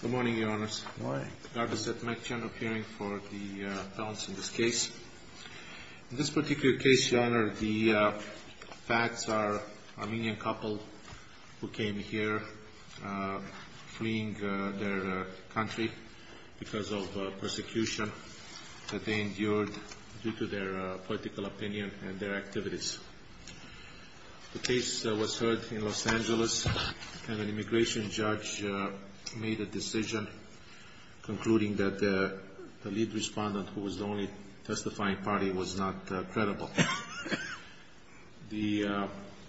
Good morning, Your Honors. Good morning. I'd like to make a general hearing for the balance in this case. In this particular case, Your Honor, the facts are an Armenian couple who came here fleeing their country because of persecution that they endured due to their political opinion and their activities. The case was heard in Los Angeles, and an immigration judge made a decision, concluding that the lead respondent, who was the only testifying party, was not credible. The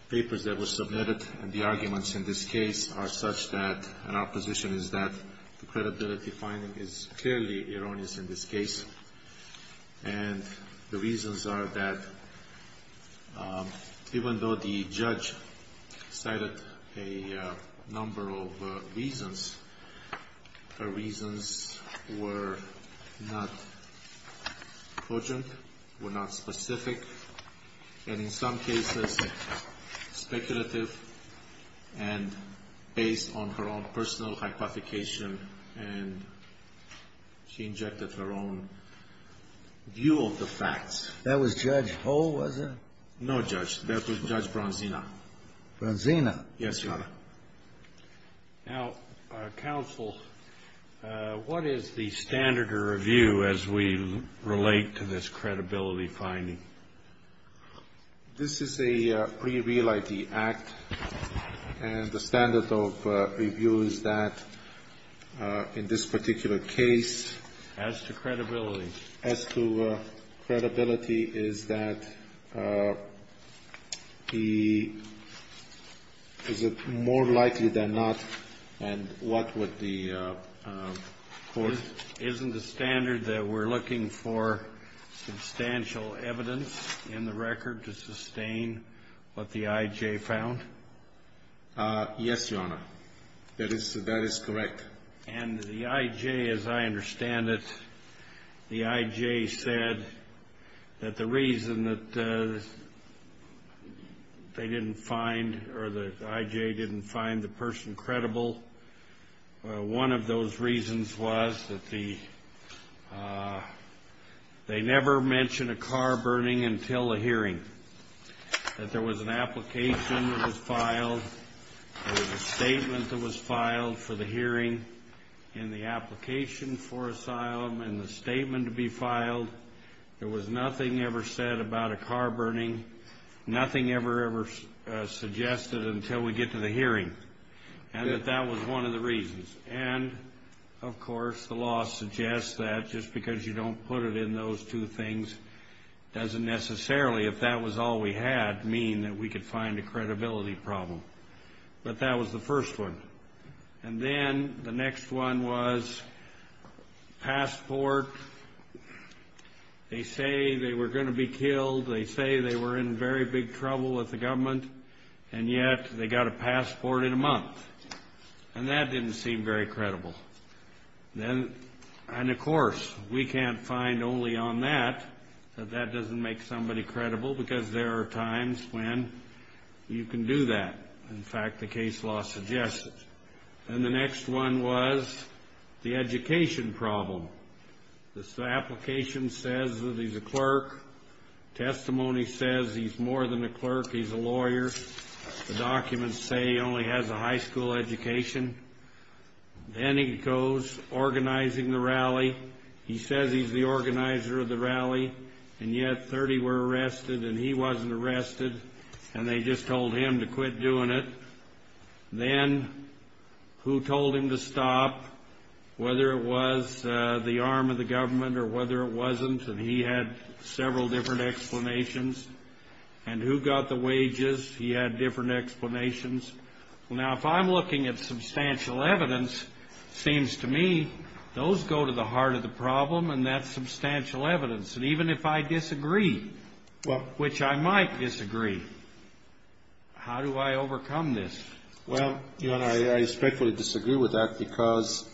papers that were submitted and the arguments in this case are such that, and our position is that the credibility finding is clearly erroneous in this case, and the reasons are that even though the judge cited a number of reasons, her reasons were not cogent, were not specific, and in some cases, speculative, and based on her own personal hypothecation, and she injected her own view of the facts. That was Judge Ho, was it? No, Judge. That was Judge Bronzina. Bronzina? Yes, Your Honor. Now, counsel, what is the standard of review as we relate to this credibility finding? This is a pre-real ID act, and the standard of review is that in this particular case. As to credibility. As to credibility is that he is more likely than not, and what would the court. Isn't the standard that we're looking for substantial evidence in the record to sustain what the IJ found? Yes, Your Honor. That is correct. And the IJ, as I understand it, the IJ said that the reason that they didn't find, or the IJ didn't find the person credible, one of those reasons was that they never mentioned a car burning until a hearing, that there was an application that was filed, there was a statement that was filed for the hearing, and the application for asylum and the statement to be filed, there was nothing ever said about a car burning, nothing ever, ever suggested until we get to the hearing, and that that was one of the reasons. And, of course, the law suggests that just because you don't put it in those two things doesn't necessarily, if that was all we had, mean that we could find a credibility problem. But that was the first one. And then the next one was passport. They say they were going to be killed. They say they were in very big trouble with the government, and yet they got a passport in a month, and that didn't seem very credible. And, of course, we can't find only on that that that doesn't make somebody credible, because there are times when you can do that. In fact, the case law suggests it. And the next one was the education problem. The application says that he's a clerk. Testimony says he's more than a clerk, he's a lawyer. The documents say he only has a high school education. Then he goes organizing the rally. He says he's the organizer of the rally, and yet 30 were arrested and he wasn't arrested, and they just told him to quit doing it. Then who told him to stop, whether it was the arm of the government or whether it wasn't, and he had several different explanations. And who got the wages, he had different explanations. Now, if I'm looking at substantial evidence, it seems to me those go to the heart of the problem, and that's substantial evidence. And even if I disagree, which I might disagree, how do I overcome this? Well, Your Honor, I respectfully disagree with that because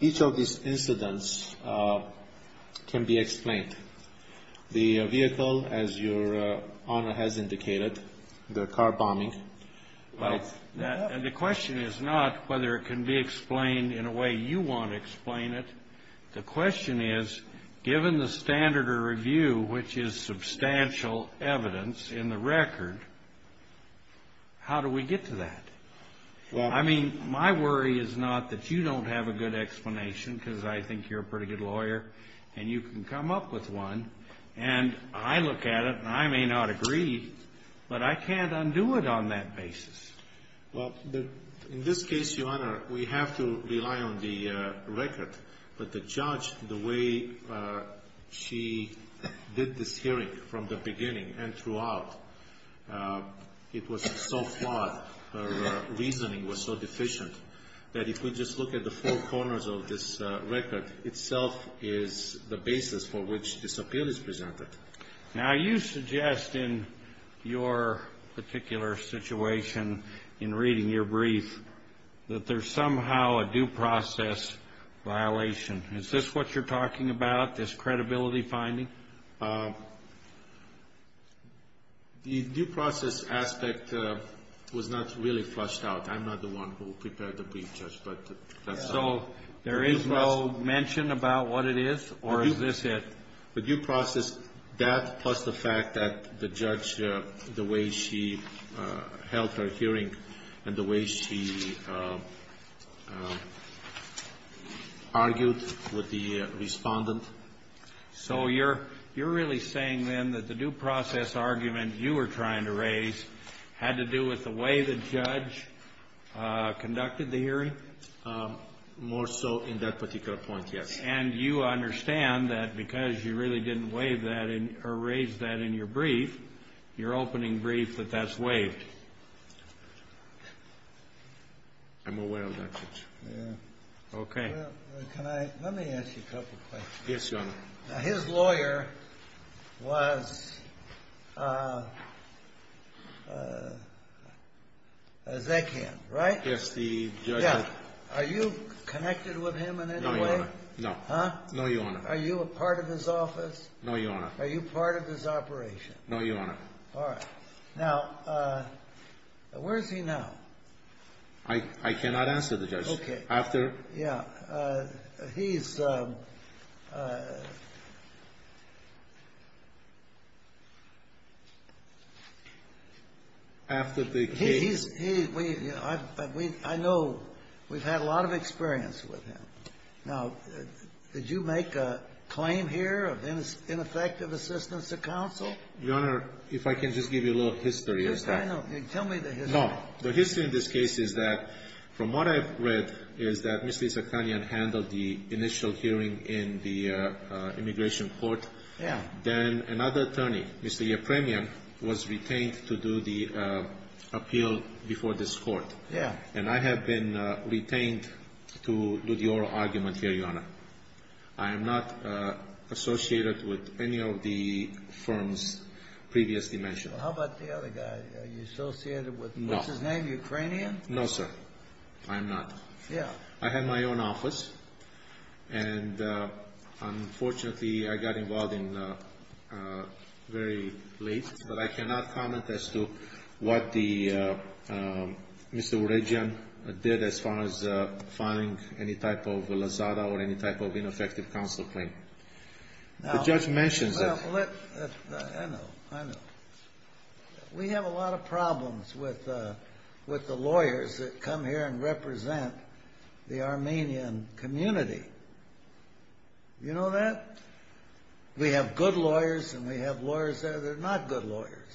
each of these incidents can be explained. The vehicle, as Your Honor has indicated, the car bombing. Well, the question is not whether it can be explained in a way you want to explain it. The question is, given the standard of review, which is substantial evidence in the record, how do we get to that? I mean, my worry is not that you don't have a good explanation because I think you're a pretty good lawyer and you can come up with one, and I look at it and I may not agree, but I can't undo it on that basis. Well, in this case, Your Honor, we have to rely on the record. But the judge, the way she did this hearing from the beginning and throughout, it was so flawed. Her reasoning was so deficient that if we just look at the four corners of this record, itself is the basis for which this appeal is presented. Now, you suggest in your particular situation, in reading your brief, that there's somehow a due process violation. Is this what you're talking about, this credibility finding? The due process aspect was not really flushed out. I'm not the one who prepared the brief, Judge, but that's how it is. So there is no mention about what it is, or is this it? The due process, that plus the fact that the judge, the way she held her hearing and the way she argued with the Respondent. So you're really saying, then, that the due process argument you were trying to raise had to do with the way the judge conducted the hearing? More so in that particular point, yes. And you understand that because you really didn't raise that in your brief, your opening brief, that that's waived? I'm aware of that, Judge. Okay. Let me ask you a couple of questions. Yes, Your Honor. Now, his lawyer was a Zeghan, right? Yes, the judge. Are you connected with him in any way? No, Your Honor. Huh? No, Your Honor. Are you a part of his office? No, Your Honor. Are you part of his operation? No, Your Honor. All right. Now, where is he now? I cannot answer that, Judge. Okay. After the case. Yeah. He's after the case. I know we've had a lot of experience with him. Now, did you make a claim here of ineffective assistance to counsel? Your Honor, if I can just give you a little history. Yes, I know. Tell me the history. No. The history in this case is that from what I've read is that Mr. Zeghanian handled the initial hearing in the immigration court. Yeah. Then another attorney, Mr. Yipremian, was retained to do the appeal before this court. Yeah. And I have been retained to do the oral argument here, Your Honor. I am not associated with any of the firms previously mentioned. How about the other guy? Are you associated with him? No. What's his name? Ukrainian? No, sir. I am not. Yeah. I had my own office, and unfortunately, I got involved very late, but I cannot comment as to what Mr. Varejian did as far as finding any type of lazada or any type of ineffective counsel claim. The judge mentions it. I know. I know. We have a lot of problems with the lawyers that come here and represent the Armenian community. You know that? We have good lawyers, and we have lawyers that are not good lawyers,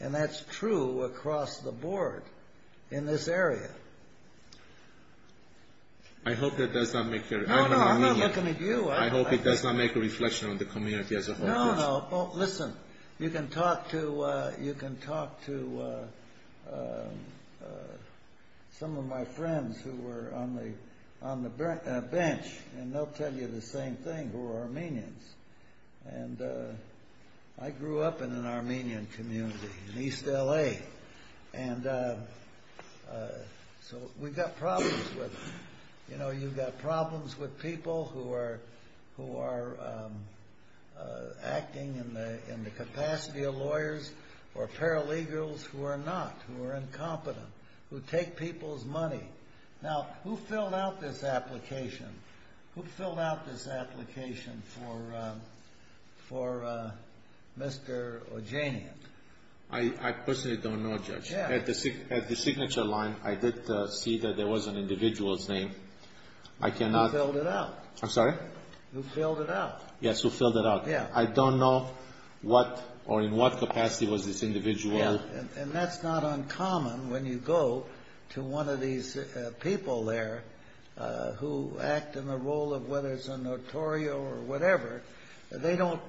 and that's true across the board in this area. I hope that does not make your opinion. No, no. I'm not looking at you. I hope it does not make a reflection on the community as a whole. No, no. Listen, you can talk to some of my friends who were on the bench, and they'll tell you the same thing, who are Armenians. And I grew up in an Armenian community in East L.A., and so we've got problems with it. We've got problems in the capacity of lawyers or paralegals who are not, who are incompetent, who take people's money. Now, who filled out this application? Who filled out this application for Mr. Varejian? I personally don't know, Judge. At the signature line, I did see that there was an individual's name. Who filled it out? I'm sorry? Who filled it out? Yes, who filled it out. I don't know what or in what capacity was this individual. Yes, and that's not uncommon when you go to one of these people there who act in the role of whether it's a notorio or whatever. They don't,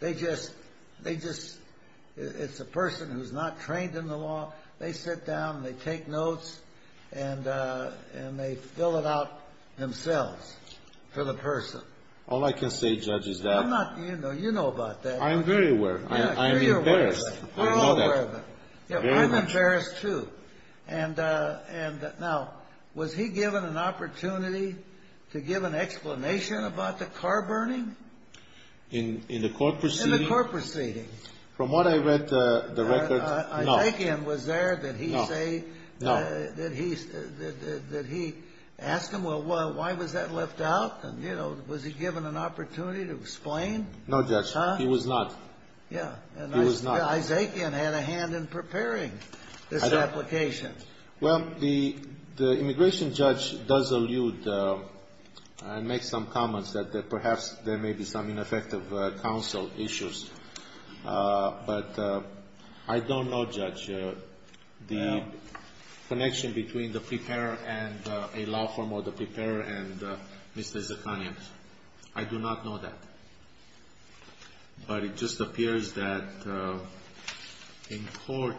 they just, they just, it's a person who's not trained in the law. They sit down, they take notes, and they fill it out themselves for the person. All I can say, Judge, is that. I'm not, you know, you know about that. I'm very aware of it. I'm embarrassed. We're all aware of it. Very much. I'm embarrassed, too. And now, was he given an opportunity to give an explanation about the car burning? In the court proceeding? In the court proceeding. From what I read, the record, no. A take-in was there that he say, that he asked him, well, why was that left out? And, you know, was he given an opportunity to explain? No, Judge. He was not. Yeah. He was not. And Isaacian had a hand in preparing this application. Well, the immigration judge does allude and make some comments that perhaps there may be some ineffective counsel issues. But I don't know, Judge, the connection between the preparer and a law firm or the preparer and Mr. Isaacian. I do not know that. But it just appears that in court,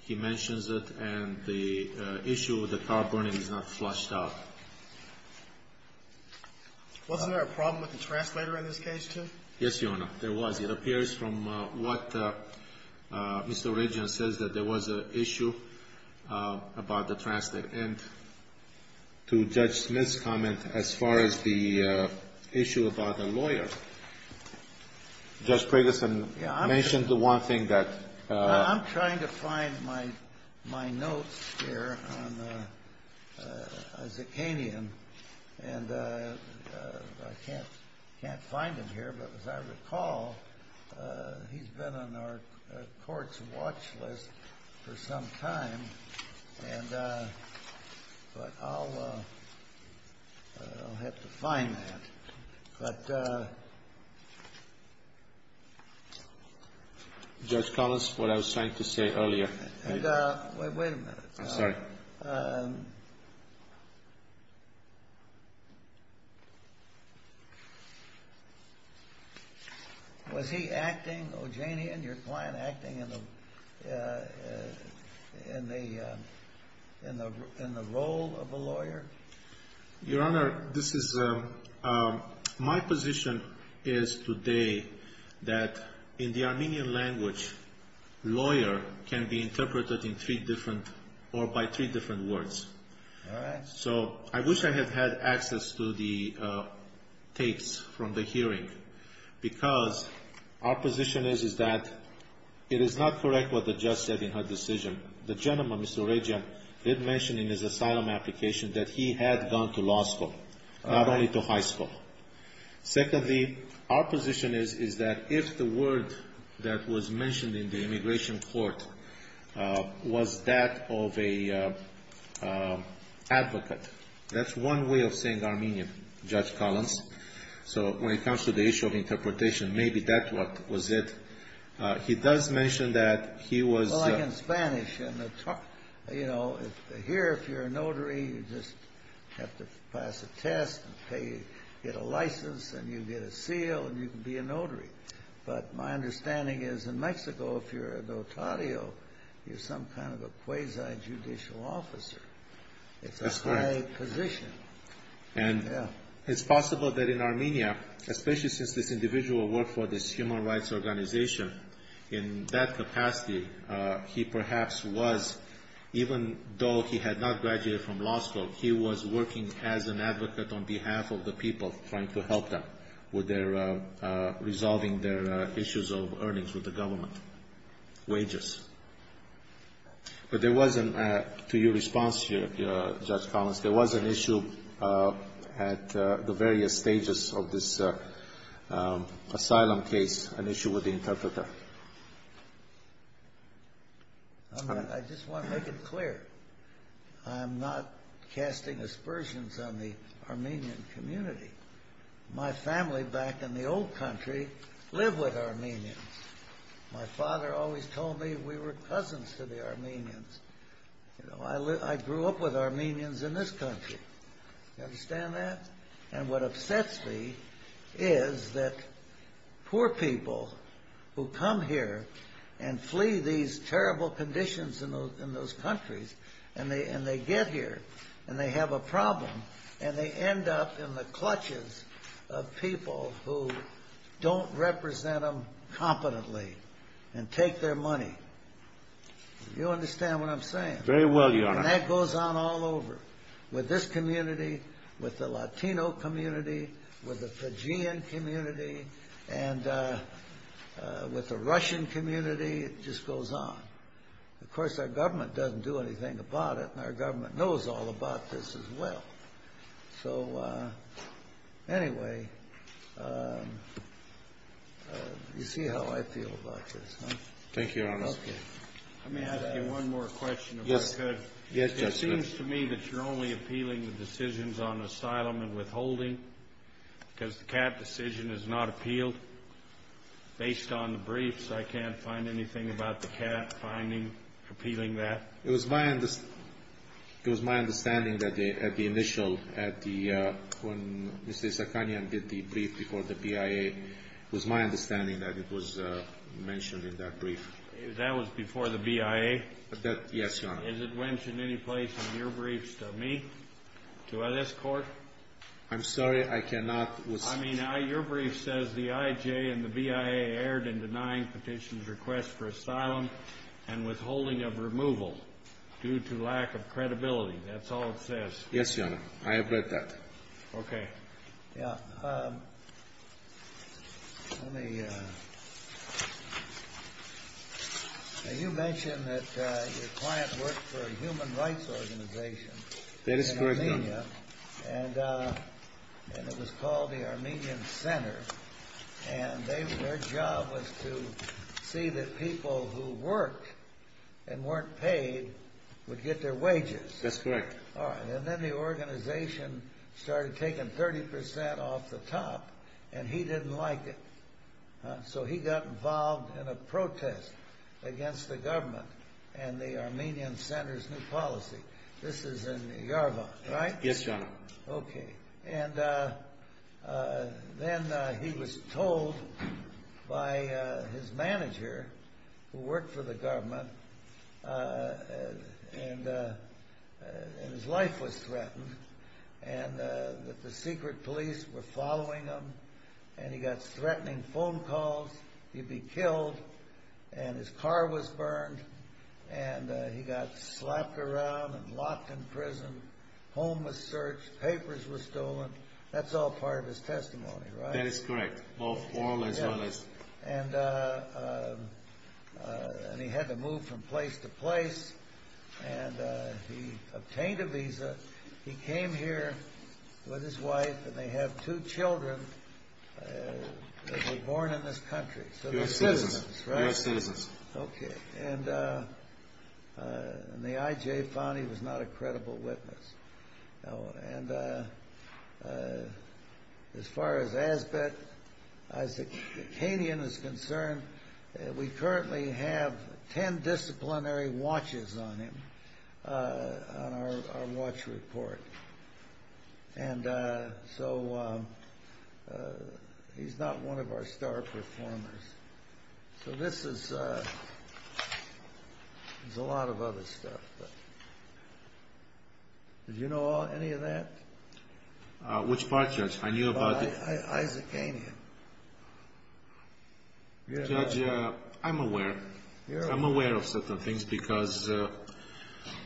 he mentions it, and the issue with the car burning is not flushed out. Wasn't there a problem with the translator in this case, too? Yes, Your Honor. There was. It appears from what Mr. Regan says, that there was an issue about the translator. And to Judge Smith's comment, as far as the issue about the lawyer, Judge Preggison mentioned the one thing that ---- I'm trying to find my notes here on Isaacian. And I can't find them here. But as I recall, he's been on our court's watch list for some time. But I'll have to find that. But ---- Judge Collins, what I was trying to say earlier. Wait a minute. I'm sorry. Was he acting, O'Janian, your client, acting in the role of a lawyer? Your Honor, this is ---- my position is today that in the Armenian language, lawyer can be interpreted in three different or by three different words. All right. So I wish I had had access to the tapes from the hearing. Because our position is that it is not correct what the judge said in her decision. The gentleman, Mr. O'Ragan, did mention in his asylum application that he had gone to law school, not only to high school. Secondly, our position is that if the word that was mentioned in the immigration court was that of an advocate, that's one way of saying Armenian, Judge Collins. So when it comes to the issue of interpretation, maybe that was it. He does mention that he was ---- It's like in Spanish. Here, if you're a notary, you just have to pass a test and get a license and you get a seal and you can be a notary. But my understanding is in Mexico, if you're an otario, you're some kind of a quasi-judicial officer. It's a high position. And it's possible that in Armenia, especially since this individual worked for this human rights organization, in that capacity he perhaps was, even though he had not graduated from law school, he was working as an advocate on behalf of the people trying to help them with resolving their issues of earnings with the government, wages. But there was an ---- To your response, Judge Collins, there was an issue at the various stages of this asylum case, an issue with the interpreter. I just want to make it clear. I'm not casting aspersions on the Armenian community. My family back in the old country lived with Armenians. My father always told me we were cousins to the Armenians. I grew up with Armenians in this country. Do you understand that? And what upsets me is that poor people who come here and flee these terrible conditions in those countries, and they get here, and they have a problem, and they end up in the clutches of people who don't represent them competently and take their money. Do you understand what I'm saying? Very well, Your Honor. And that goes on all over, with this community, with the Latino community, with the Fijian community, and with the Russian community. It just goes on. Of course, our government doesn't do anything about it, and our government knows all about this as well. So, anyway, you see how I feel about this, huh? Thank you, Your Honor. Okay. Let me ask you one more question, if I could. Yes, Judge. It seems to me that you're only appealing the decisions on asylum and withholding because the CAT decision is not appealed. Based on the briefs, I can't find anything about the CAT finding, appealing that. It was my understanding that at the initial, when Mr. Zakarian did the brief before the BIA, it was my understanding that it was mentioned in that brief. That was before the BIA? Yes, Your Honor. Is it mentioned any place in your briefs to me, to this Court? I'm sorry, I cannot. I mean, your brief says the IJ and the BIA erred in denying petitions request for asylum and withholding of removal due to lack of credibility. That's all it says. Yes, Your Honor. I have read that. Okay. Now, you mentioned that your client worked for a human rights organization in Armenia. That is correct, Your Honor. And it was called the Armenian Center. And their job was to see that people who worked and weren't paid would get their wages. That's correct. All right. And then the organization started taking 30% off the top, and he didn't like it. So he got involved in a protest against the government and the Armenian Center's new policy. This is in Yerevan, right? Yes, Your Honor. Okay. And then he was told by his manager, who worked for the government, and his life was threatened, and that the secret police were following him. And he got threatening phone calls he'd be killed, and his car was burned, and he got slapped around and locked in prison. Homeless search, papers were stolen. That's all part of his testimony, right? That is correct, both oral as well as... And he had to move from place to place, and he obtained a visa. He came here with his wife, and they have two children that were born in this country. So they're citizens, right? They're citizens. Okay. And the IJ found he was not a credible witness. And as far as Azbek Isakian is concerned, we currently have 10 disciplinary watches on him, on our watch report. And so he's not one of our star performers. So this is a lot of other stuff. Did you know any of that? Which part, Judge? I knew about the... Isakian. Judge, I'm aware. I'm aware of certain things because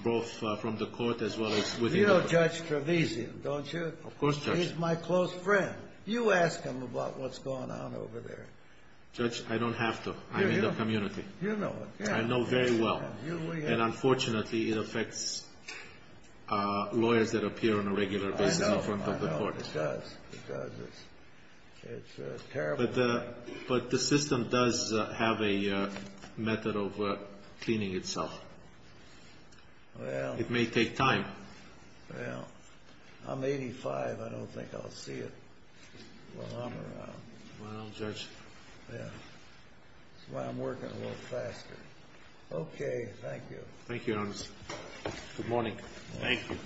both from the court as well as within the... You know Judge Trevisan, don't you? Of course, Judge. He's my close friend. You ask him about what's going on over there. Judge, I don't have to. I'm in the community. You know it. I know very well. And unfortunately, it affects lawyers that appear on a regular basis in front of the court. I know, I know. It does. It does. It's terrible. But the system does have a method of cleaning itself. It may take time. Well, I'm 85. I don't think I'll see it while I'm around. Well, Judge. Yeah. That's why I'm working a little faster. Okay. Thank you. Thank you, Your Honor. Good morning. Thank you.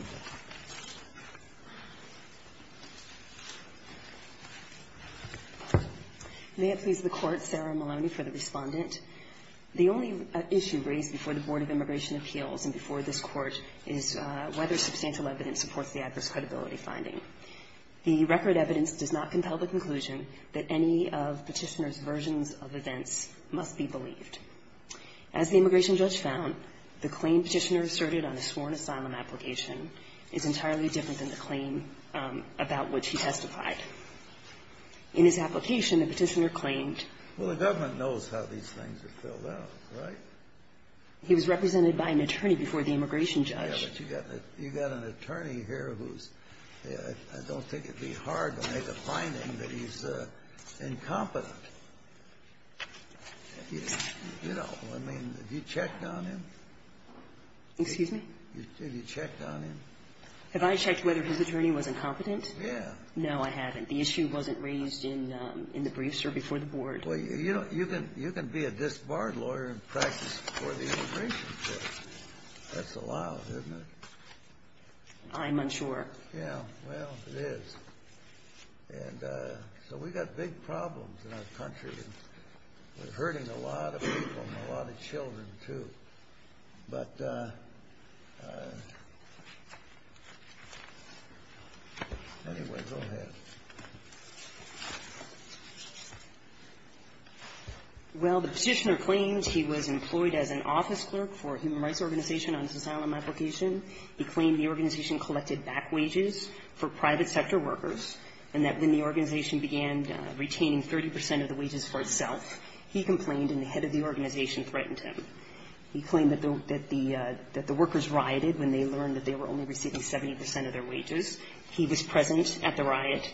May it please the Court, Sarah Maloney for the respondent. The only issue raised before the Board of Immigration Appeals and before this Court is whether substantial evidence supports the adverse credibility finding. The record evidence does not compel the conclusion that any of Petitioner's versions of events must be believed. As the immigration judge found, the claim Petitioner asserted on a sworn asylum application is entirely different than the claim about which he testified. In his application, the Petitioner claimed he was represented by an attorney before the immigration judge. Yeah, but you got an attorney here who's – I don't think it'd be hard to make a finding that he's incompetent. You know, I mean, have you checked on him? Excuse me? Have you checked on him? Have I checked whether his attorney was incompetent? Yeah. No, I haven't. The issue wasn't raised in the brief, sir, before the Board. Well, you know, you can be a disbarred lawyer in practice before the immigration judge. That's allowed, isn't it? I'm unsure. Yeah. Well, it is. And so we've got big problems in our country. We're hurting a lot of people and a lot of children, too. But anyway, go ahead. Well, the Petitioner claims he was employed as an office clerk for a human rights organization on his asylum application. He claimed the organization collected back wages for private sector workers and that when the organization began retaining 30 percent of the wages for itself, he complained and the head of the organization threatened him. He claimed that the workers rioted when they learned that they were only receiving 70 percent of their wages. He was present at the riot.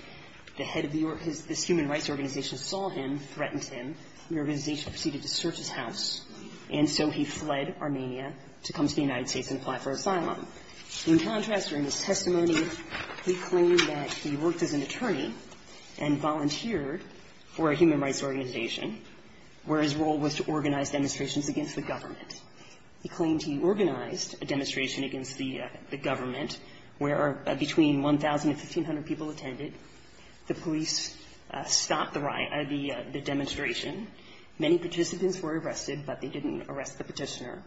The head of this human rights organization saw him, threatened him. The organization proceeded to search his house, and so he fled Armenia to come to the United States and apply for asylum. In contrast, during his testimony, he claimed that he worked as an attorney and volunteered for a human rights organization where his role was to organize demonstrations against the government. He claimed he organized a demonstration against the government where between 1,000 and 1,500 people attended. The police stopped the demonstration. Many participants were arrested, but they didn't arrest the Petitioner.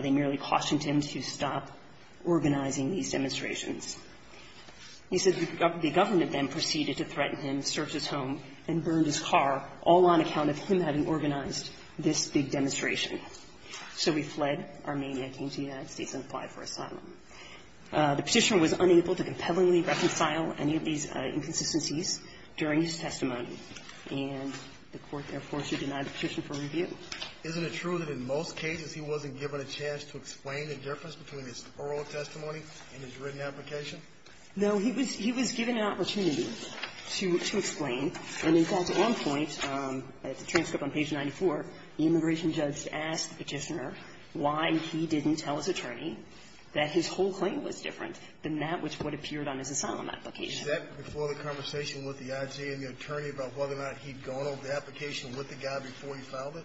They merely cautioned him to stop organizing these demonstrations. He said the government then proceeded to threaten him, search his home, and burned his car all on account of him having organized this big demonstration. So he fled Armenia, came to the United States, and applied for asylum. The Petitioner was unable to compellingly reconcile any of these inconsistencies during his testimony, and the Court, therefore, should deny the Petitioner for review. Isn't it true that in most cases he wasn't given a chance to explain the difference between his oral testimony and his written application? He was given an opportunity to explain. And in fact, on point, at the transcript on page 94, the immigration judge asked the Petitioner why he didn't tell his attorney that his whole claim was different than that which would have appeared on his asylum application. Is that before the conversation with the IG and the attorney about whether or not he'd gone over the application with the guy before he filed it?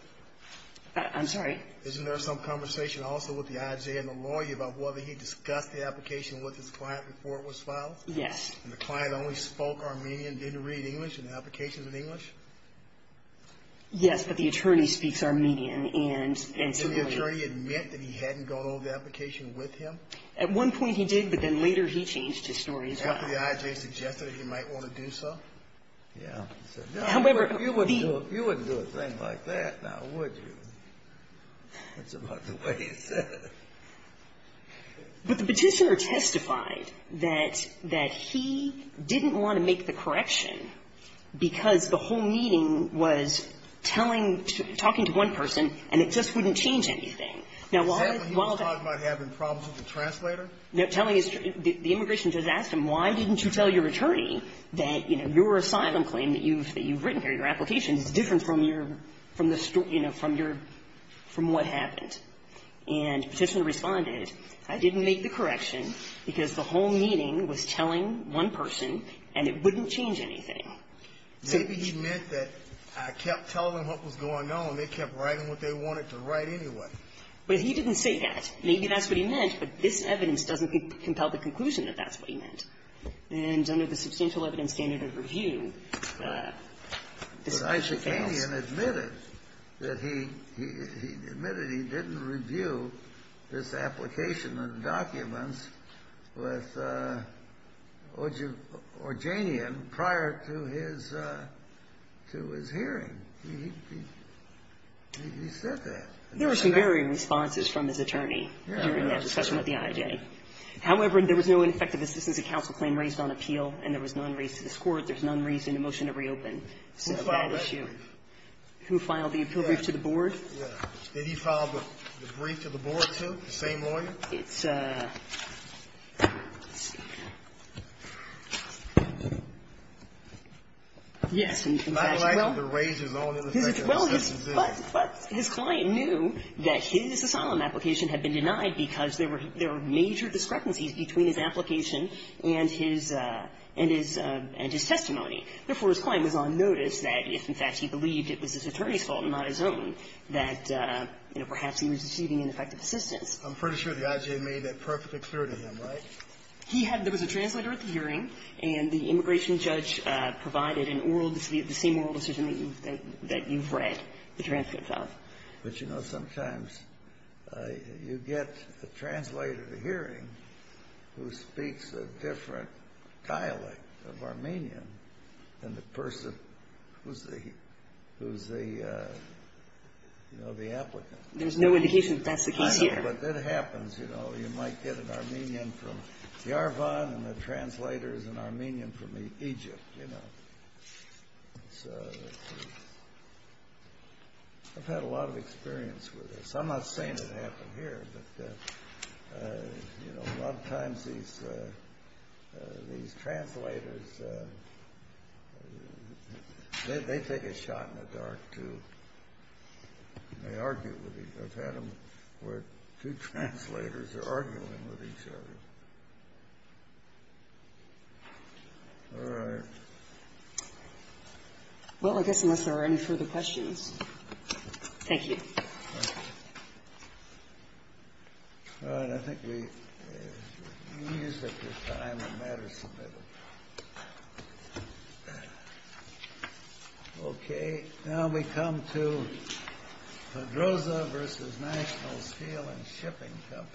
I'm sorry? Isn't there some conversation also with the IG and the lawyer about whether he discussed the application with his client before it was filed? Yes. And the client only spoke Armenian, didn't read English, and the application was in English? Yes, but the attorney speaks Armenian, and so the lawyer ---- Didn't the attorney admit that he hadn't gone over the application with him? At one point he did, but then later he changed his story as well. After the IG suggested that he might want to do so? Yes. However, the ---- You wouldn't do a thing like that, now, would you? That's about the way he said it. But the Petitioner testified that he didn't want to make the correction because the whole meeting was telling to ---- talking to one person, and it just wouldn't change anything. Now, while the ---- He was talking about having problems with the translator? Telling his ---- the immigration judge asked him, why didn't you tell your attorney that, you know, your asylum claim that you've written here, your application, is different from your ---- from the story, you know, from your ---- from what happened? And Petitioner responded, I didn't make the correction because the whole meeting was telling one person, and it wouldn't change anything. Maybe he meant that I kept telling them what was going on. They kept writing what they wanted to write anyway. But he didn't say that. Maybe that's what he meant, but this evidence doesn't compel the conclusion that that's what he meant. But the IJKian admitted that he ---- he admitted he didn't review this application and documents with Ogjanian prior to his ---- to his hearing. He said that. There were some varying responses from his attorney during that discussion with the IJ. However, there was no ineffective assistance of counsel claim raised on appeal, and there was none raised to this Court. There's none raised in the motion to reopen. So that issue. Who filed that? Who filed the appeal brief to the board? Yeah. Did he file the brief to the board, too, the same lawyer? It's a ---- Yes. In fact, well ---- My client had to raise his own ineffective assistance. Well, his client knew that his asylum application had been denied because there were major discrepancies between his application and his testimony. Therefore, his client was on notice that if, in fact, he believed it was his attorney's fault and not his own, that, you know, perhaps he was receiving ineffective assistance. I'm pretty sure the IJ made that perfectly clear to him, right? He had ---- there was a translator at the hearing, and the immigration judge provided an oral decision, the same oral decision that you've read the transcript of. But, you know, sometimes you get a translator at a hearing who speaks a different dialect of Armenian than the person who's the, you know, the applicant. There's no indication that that's the case here. I know. But that happens, you know. You might get an Armenian from Yerevan, and the translator is an Armenian from Egypt, you know. So I've had a lot of experience with this. I'm not saying it happened here, but, you know, a lot of times these translators, they take a shot in the dark, too. They argue with each other. I've had them where two translators are arguing with each other. All right. Well, I guess unless there are any further questions. Thank you. All right. I think we've used up the time on matters submitted. Okay. Now we come to Pedroza versus National Steel and Shipping Company. Thank you.